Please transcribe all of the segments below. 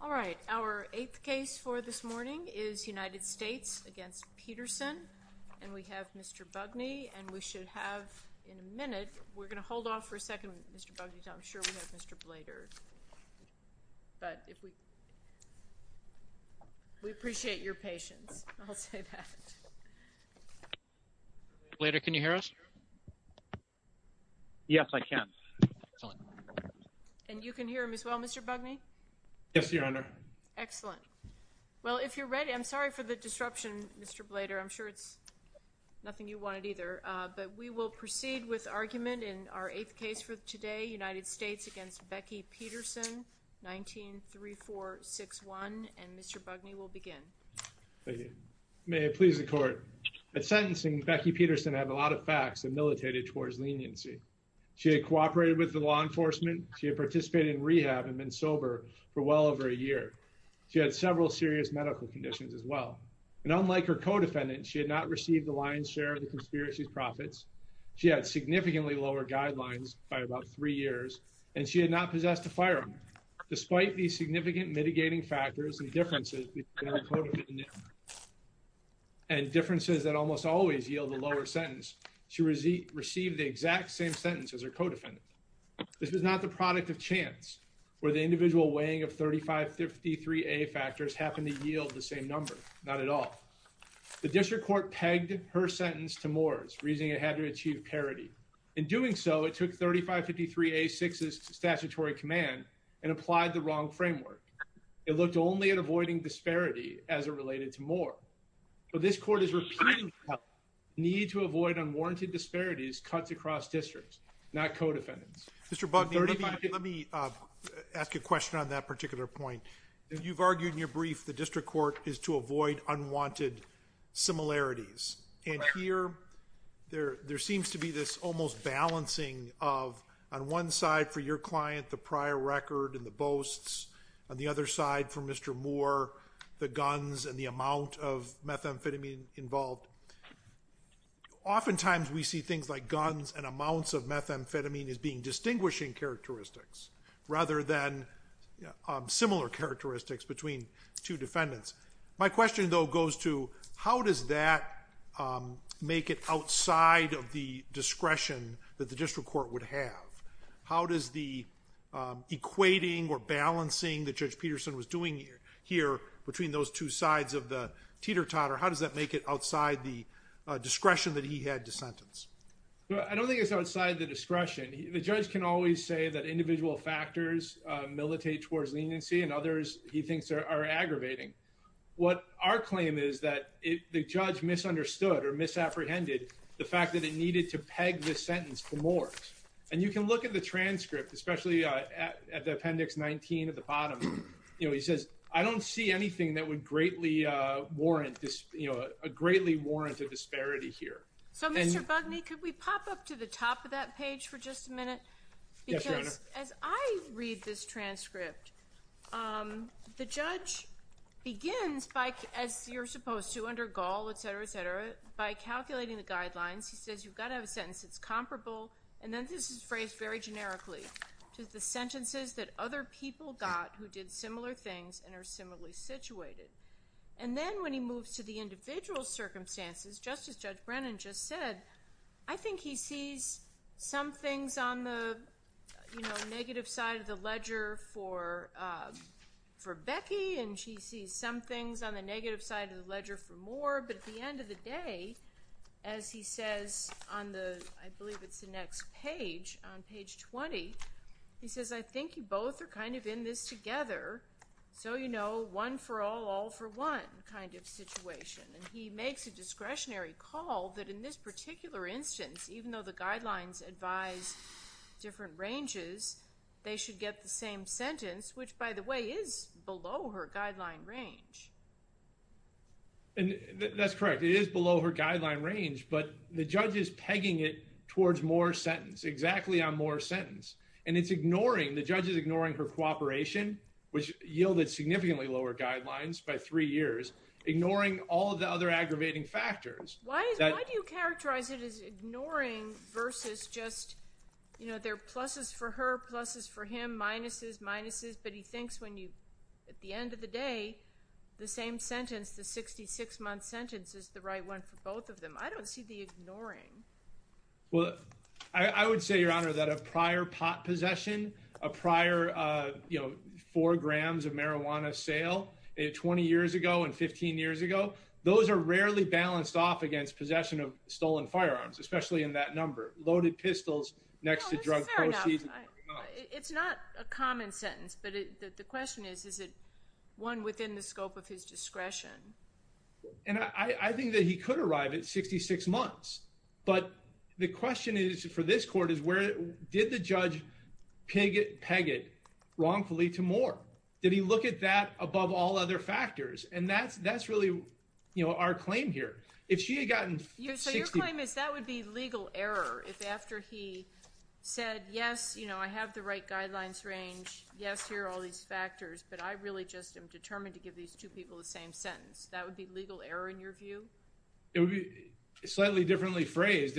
All right, our eighth case for this morning is United States v. Peterson, and we have Mr. Bugney, and we should have in a minute, we're going to hold off for a second Mr. Bugney because I'm sure we have Mr. Blader, but if we, we appreciate your patience, I'll say that. Mr. Blader, can you hear us? Yes, I can. Excellent. And you can hear him as well, Mr. Bugney? Yes, Your Honor. Excellent. Well, if you're ready, I'm sorry for the disruption, Mr. Blader, I'm sure it's United States v. Becky Peterson, 19-3461, and Mr. Bugney will begin. Thank you. May it please the Court. At sentencing, Becky Peterson had a lot of facts and militated towards leniency. She had cooperated with the law enforcement, she had participated in rehab and been sober for well over a year. She had several serious medical conditions as well, and unlike her co-defendant, she had not received the lion's share of the conspiracy's profits. She had significantly lower guidelines by about three years, and she had not possessed a firearm. Despite these significant mitigating factors and differences, and differences that almost always yield the lower sentence, she received the exact same sentence as her co-defendant. This was not the product of chance, where the individual weighing of 3553A factors happened to yield the same number, not at all. The district court pegged her sentence to Moore's, reasoning it had to achieve parity. In doing so, it took 3553A-6's statutory command and applied the wrong framework. It looked only at avoiding disparity as it related to Moore, but this court is repeating the need to avoid unwarranted disparities cuts across districts, not co-defendants. Mr. Bugney, let me ask you a question on that particular point. You've argued in your brief the district court is to avoid unwanted similarities, and here there seems to be this almost balancing of, on one side for your client, the prior record and the boasts, on the other side for Mr. Moore, the guns and the amount of methamphetamine involved. Oftentimes we see things like guns and amounts of methamphetamine as being distinguishing characteristics, rather than similar characteristics between two defendants. My question though goes to, how does that make it outside of the discretion that the district court would have? How does the equating or balancing that Judge Peterson was doing here between those two sides of the teeter-totter, how does that make it outside the discretion that he had to sentence? I don't think it's outside the discretion. The judge can always say that individual factors militate towards leniency, and others he thinks are aggravating. What our claim is that the judge misunderstood or misapprehended the fact that it needed to peg the sentence for Moore. And you can look at the transcript, especially at the appendix 19 at the bottom, you know, he says, I don't see anything that would greatly warrant a disparity here. So Mr. Bugney, could we pop up to the top of that page for just a minute? Yes, Your Honor. Because as I read this transcript, the judge begins by, as you're supposed to under Gaul, etc., etc., by calculating the guidelines. He says you've got to have a sentence that's comparable, and then this is phrased very And then when he moves to the individual circumstances, just as Judge Brennan just said, I think he sees some things on the, you know, negative side of the ledger for Becky, and she sees some things on the negative side of the ledger for Moore. But at the end of the day, as he says on the, I believe it's the next page, on page 20, he says, I think you both are kind of putting this together, so you know, one for all, all for one kind of situation. And he makes a discretionary call that in this particular instance, even though the guidelines advise different ranges, they should get the same sentence, which, by the way, is below her guideline range. And that's correct. It is below her guideline range, but the judge is pegging it towards Moore's which yielded significantly lower guidelines by three years, ignoring all the other aggravating factors. Why do you characterize it as ignoring versus just, you know, there are pluses for her, pluses for him, minuses, minuses, but he thinks when you, at the end of the day, the same sentence, the 66-month sentence is the right one for both of them. I don't see the ignoring. Well, I would say, Your Honor, that a prior pot possession, a prior, you know, four grams of marijuana sale 20 years ago and 15 years ago, those are rarely balanced off against possession of stolen firearms, especially in that number. Loaded pistols next to drug proceeds. It's not a common sentence, but the question is, is it one within the scope of his discretion? And I think that he could arrive at 66 months, but the question is, for this court, is where, did the judge peg it wrongfully to Moore? Did he look at that above all other factors? And that's really, you know, our claim here. If she had gotten... So your claim is that would be legal error if after he said, yes, you know, I have the right guidelines range, yes, here are all these factors, but I really just am determined to give these two people the same sentence. That would be legal error in your view? It would be slightly differently phrased.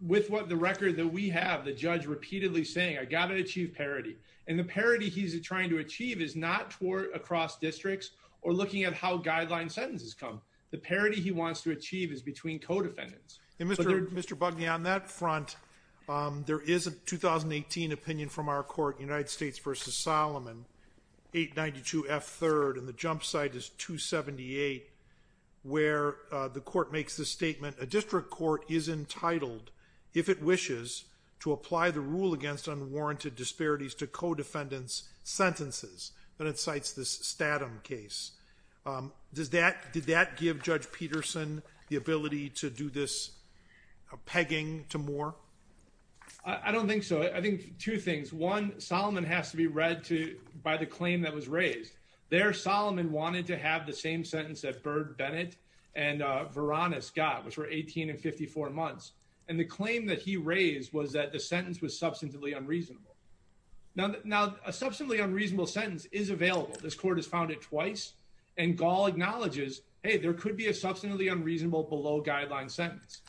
With what the record that we have, the judge repeatedly saying, I got to achieve parity. And the parity he's trying to achieve is not toward across districts or looking at how guideline sentences come. The parity he wants to achieve is between co-defendants. And Mr. Bugney, on that front, there is a 2018 opinion from our court, United States versus Solomon, 892 F third, and the jump side is 278, where the court makes the statement, a district court is entitled, if it wishes, to apply the rule against unwarranted disparities to co-defendants' sentences. And it cites this Statham case. Did that give Judge Peterson the ability to do this pegging to Moore? I don't think so. I think two things. One, Solomon has to be read by the claim that was raised. There, Solomon wanted to have the same sentence that Byrd, Bennett, and Varonis got, which were 18 and 54 months. And the claim that he raised was that the sentence was substantively unreasonable. Now, a substantively unreasonable sentence is available. This court has found it twice. And Gall acknowledges, hey, there could be a substantively unreasonable below guideline sentence.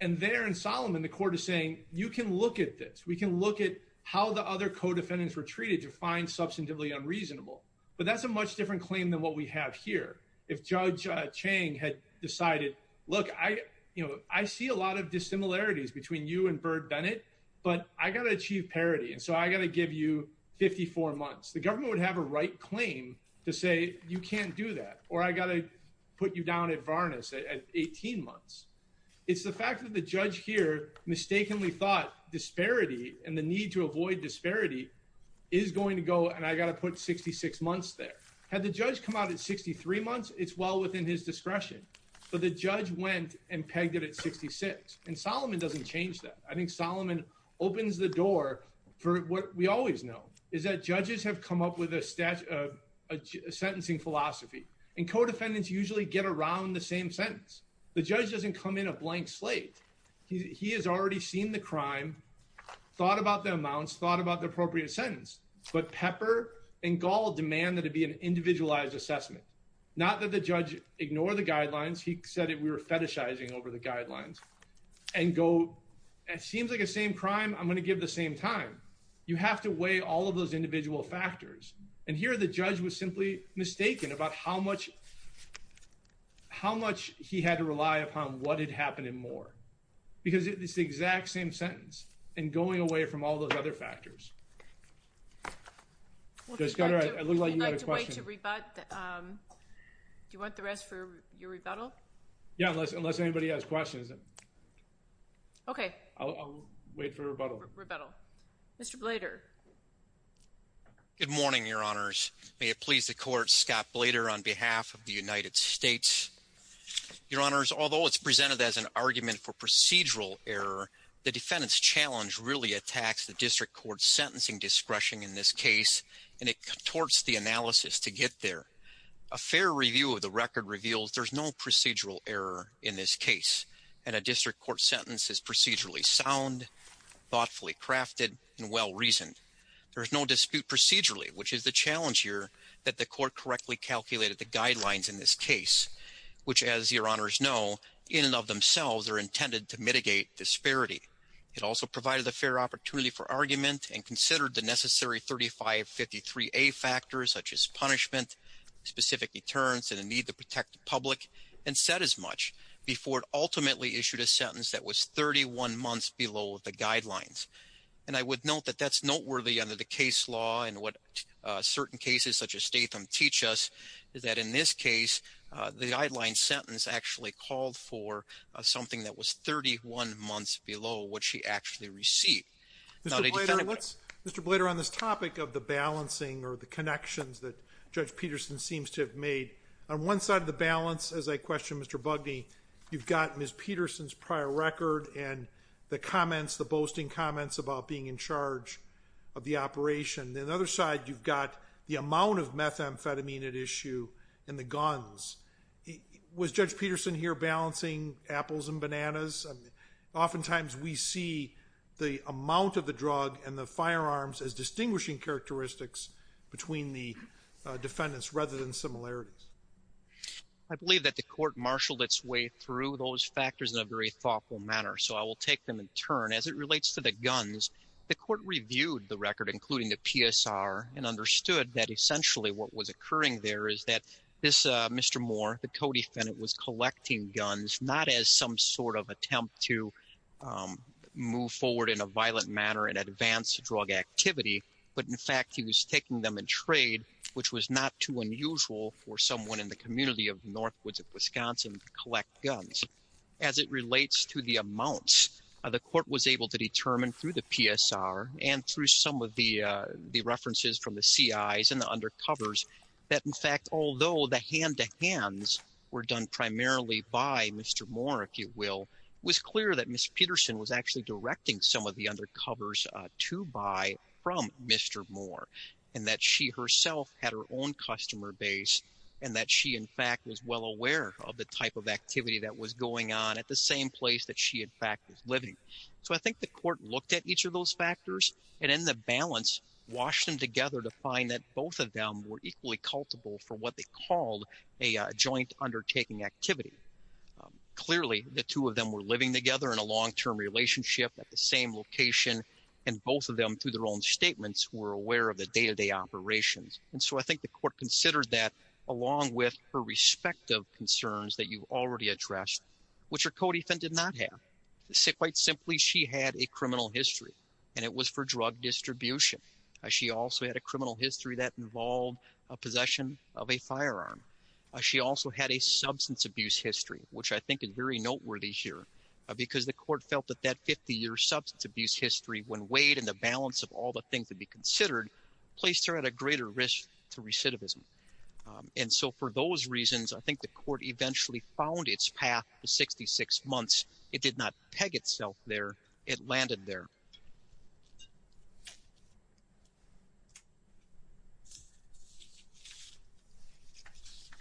And there in Solomon, the court is saying, you can look at this. We can look at how the other co-defendants were treated to find substantively unreasonable. But that's a much different claim than what we have here. If Judge Chang had decided, look, I see a lot of dissimilarities between you and Byrd, Bennett, but I got to achieve parity. And so I got to give you 54 months. The government would have a right claim to say, you can't do that. Or I got to put you down at Varonis at 18 months. It's the fact that the judge here mistakenly thought disparity and the need to avoid disparity is going to go, and I got to put 66 months there. Had the judge come out at 63 months, it's well within his discretion. But the judge went and pegged it at 66. And Solomon doesn't change that. I think Solomon opens the door for what we always know, is that judges have come up with a sentencing philosophy. And co-defendants usually get around the same sentence. The judge doesn't come in a blank slate. He has already seen the crime, thought about the amounts, thought about the appropriate sentence. But Pepper and Gall demand that it be an individualized assessment. Not that the judge ignore the guidelines. He said that we were fetishizing over the guidelines. And go, it seems like the same crime, I'm going to give the same time. You have to weigh all of those factors. How much he had to rely upon what had happened and more. Because it's the exact same sentence. And going away from all those other factors. I look like you had a question. Do you want the rest for your rebuttal? Yeah, unless anybody has questions. Okay. I'll wait for a rebuttal. Mr. Blader. Good morning, your honors. May it please the court, Scott Blader on behalf of the United States. Your honors, although it's presented as an argument for procedural error, the defendant's challenge really attacks the district court's sentencing discretion in this case. And it contorts the analysis to get there. A fair review of the record reveals there's no procedural error in this case. And a district court sentence is procedurally sound, thoughtfully crafted, and well-reasoned. There is no dispute procedurally, which is the challenge here that the court correctly calculated the guidelines in this case. Which as your honors know, in and of themselves are intended to mitigate disparity. It also provided a fair opportunity for argument and considered the necessary 3553A factors such as punishment, specific deterrence and a need to protect the public. And said as much before it ultimately issued a sentence that was 31 months below the guidelines. And I would note that that's noteworthy under the case law and what certain cases such as Statham teach us is that in this case, the guideline sentence actually called for something that was 31 months below what she actually received. Mr. Blader on this topic of the balancing or the connections that Judge Peterson seems to have On one side of the balance, as I questioned Mr. Bugney, you've got Ms. Peterson's prior record and the comments, the boasting comments about being in charge of the operation. The other side, you've got the amount of methamphetamine at issue and the guns. Was Judge Peterson here balancing apples and bananas? Oftentimes we see the amount of the drug and the firearms as distinguishing characteristics between the defendants rather than similarities. I believe that the court marshaled its way through those factors in a very thoughtful manner, so I will take them in turn. As it relates to the guns, the court reviewed the record, including the PSR, and understood that essentially what was occurring there is that this Mr. Moore, the co-defendant, was collecting guns not as some sort of attempt to move forward in a violent manner and advance drug activity, but in fact he was taking them in trade, which was not too unusual for someone in the community of Northwoods of Wisconsin to collect guns. As it relates to the amounts, the court was able to determine through the PSR and through some of the references from the CIs and the undercovers that in fact, although the hand-to-hands were done primarily by Mr. Moore, if you will, it was clear that Ms. Peterson was actually directing some of the undercovers to buy from Mr. Moore, and that she herself had her own customer base, and that she in fact was well aware of the type of activity that was going on at the same place that she in fact was living. So I think the court looked at each of those factors and in the balance, washed them together to find that both of them were equally culpable for what they called a joint undertaking activity. Clearly, the two of them were living together in a long-term relationship at the same location, and both of them through their own statements were aware of the day-to-day operations. And so I think the court considered that along with her respective concerns that you've already addressed, which her co-defendant did not have. Quite simply, she had a criminal history, and it was for drug distribution. She also had a criminal history that involved a possession of a firearm. She also had a substance abuse history, which I think is very noteworthy here, because the court felt that that 50-year substance abuse history, when weighed in the balance of all the things to be considered, placed her at a greater risk to recidivism. And so for those reasons, I think the court eventually found its path to 66 months. It did not peg itself there. It landed there.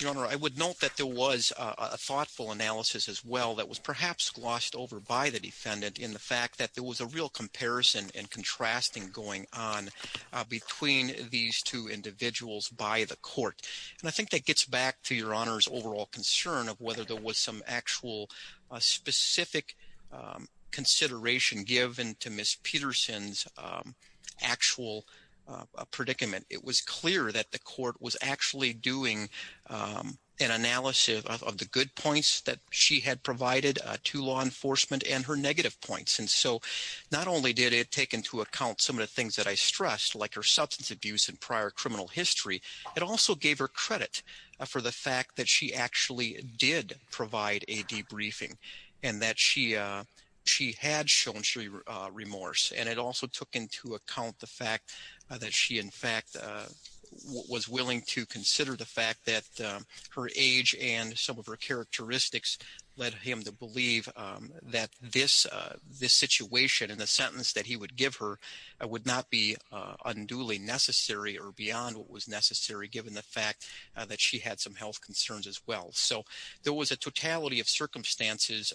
Your Honor, I would note that there was a thoughtful analysis as well that was perhaps glossed over by the defendant in the fact that there was a real comparison and contrasting going on between these two individuals by the court. And I think that gets back to Your Honor's overall concern of whether there was some actual specific consideration given to Ms. Peterson's actual predicament. It was clear that the court was actually doing an analysis of the good points that she had provided to law enforcement and her negative points. And so not only did it take into account some of the things that I stressed, like her substance abuse and prior criminal history, it also gave her credit for the fact that she actually did provide a debriefing and that she had shown remorse. And it also took into account the fact that she, in fact, was willing to consider the fact that her age and some of her characteristics led him to believe that this situation and the sentence that he would give her would not be unduly necessary or beyond what was necessary given the fact that she had some health concerns as well. So there was a totality of circumstances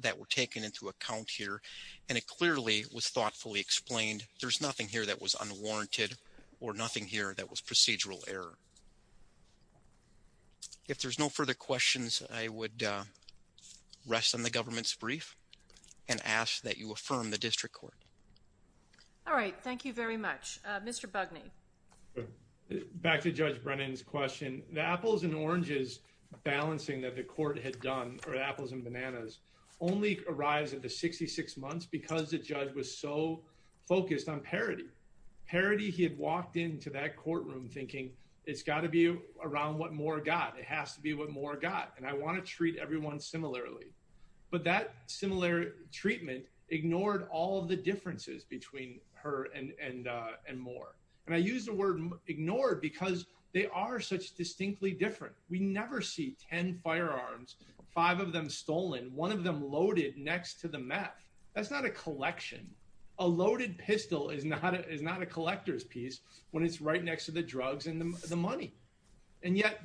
that were taken into account here and it clearly was thoughtfully explained. There's nothing here that was unwarranted or nothing here that was procedural error. If there's no further questions, I would rest on the government's brief and ask that you affirm the district court. All right, thank you very much. Mr. Bugney. Back to Judge Brennan's question. The apples and oranges balancing that the court had done for apples and bananas only arrives at the 66 months because the judge was so focused on parity. Parity, he had walked into that courtroom thinking it's got to be around what Moore got. It has to be what Moore got and I want to treat everyone similarly. But that similar treatment ignored all of the differences between her and Moore. And I use the word ignored because they are such distinctly different. We never see 10 firearms, five of them stolen, one of them loaded next to the meth. That's not a collection. A loaded pistol is not a collector's piece when it's right next to the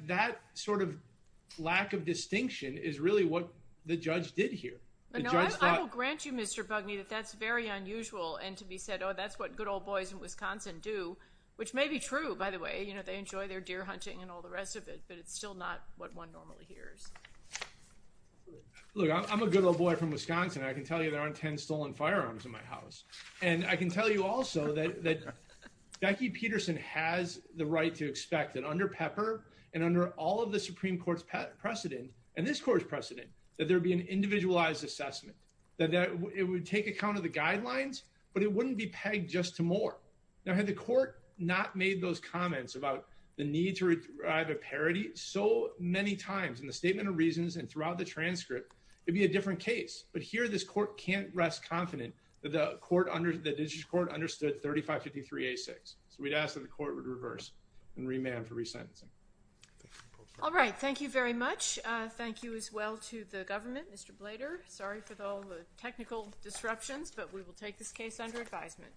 gun. Lack of distinction is really what the judge did here. I will grant you, Mr. Bugney, that that's very unusual. And to be said, oh, that's what good old boys in Wisconsin do, which may be true, by the way. You know, they enjoy their deer hunting and all the rest of it, but it's still not what one normally hears. Look, I'm a good old boy from Wisconsin. I can tell you there aren't 10 stolen firearms in my house. And I can tell you also that Becky Peterson has the right to expect that under Pepper and under all of the Supreme Court's precedent, and this court's precedent, that there be an individualized assessment, that it would take account of the guidelines, but it wouldn't be pegged just to Moore. Now, had the court not made those comments about the need to derive a parity so many times in the statement of reasons and throughout the transcript, it'd be a different case. But here this court can't rest confident that the court, the district court, understood 3553A6. So we'd ask that the court would reverse and remand for resentencing. All right, thank you very much. Thank you as well to the government, Mr. Blader. Sorry for all the technical disruptions, but we will take this case under advisement.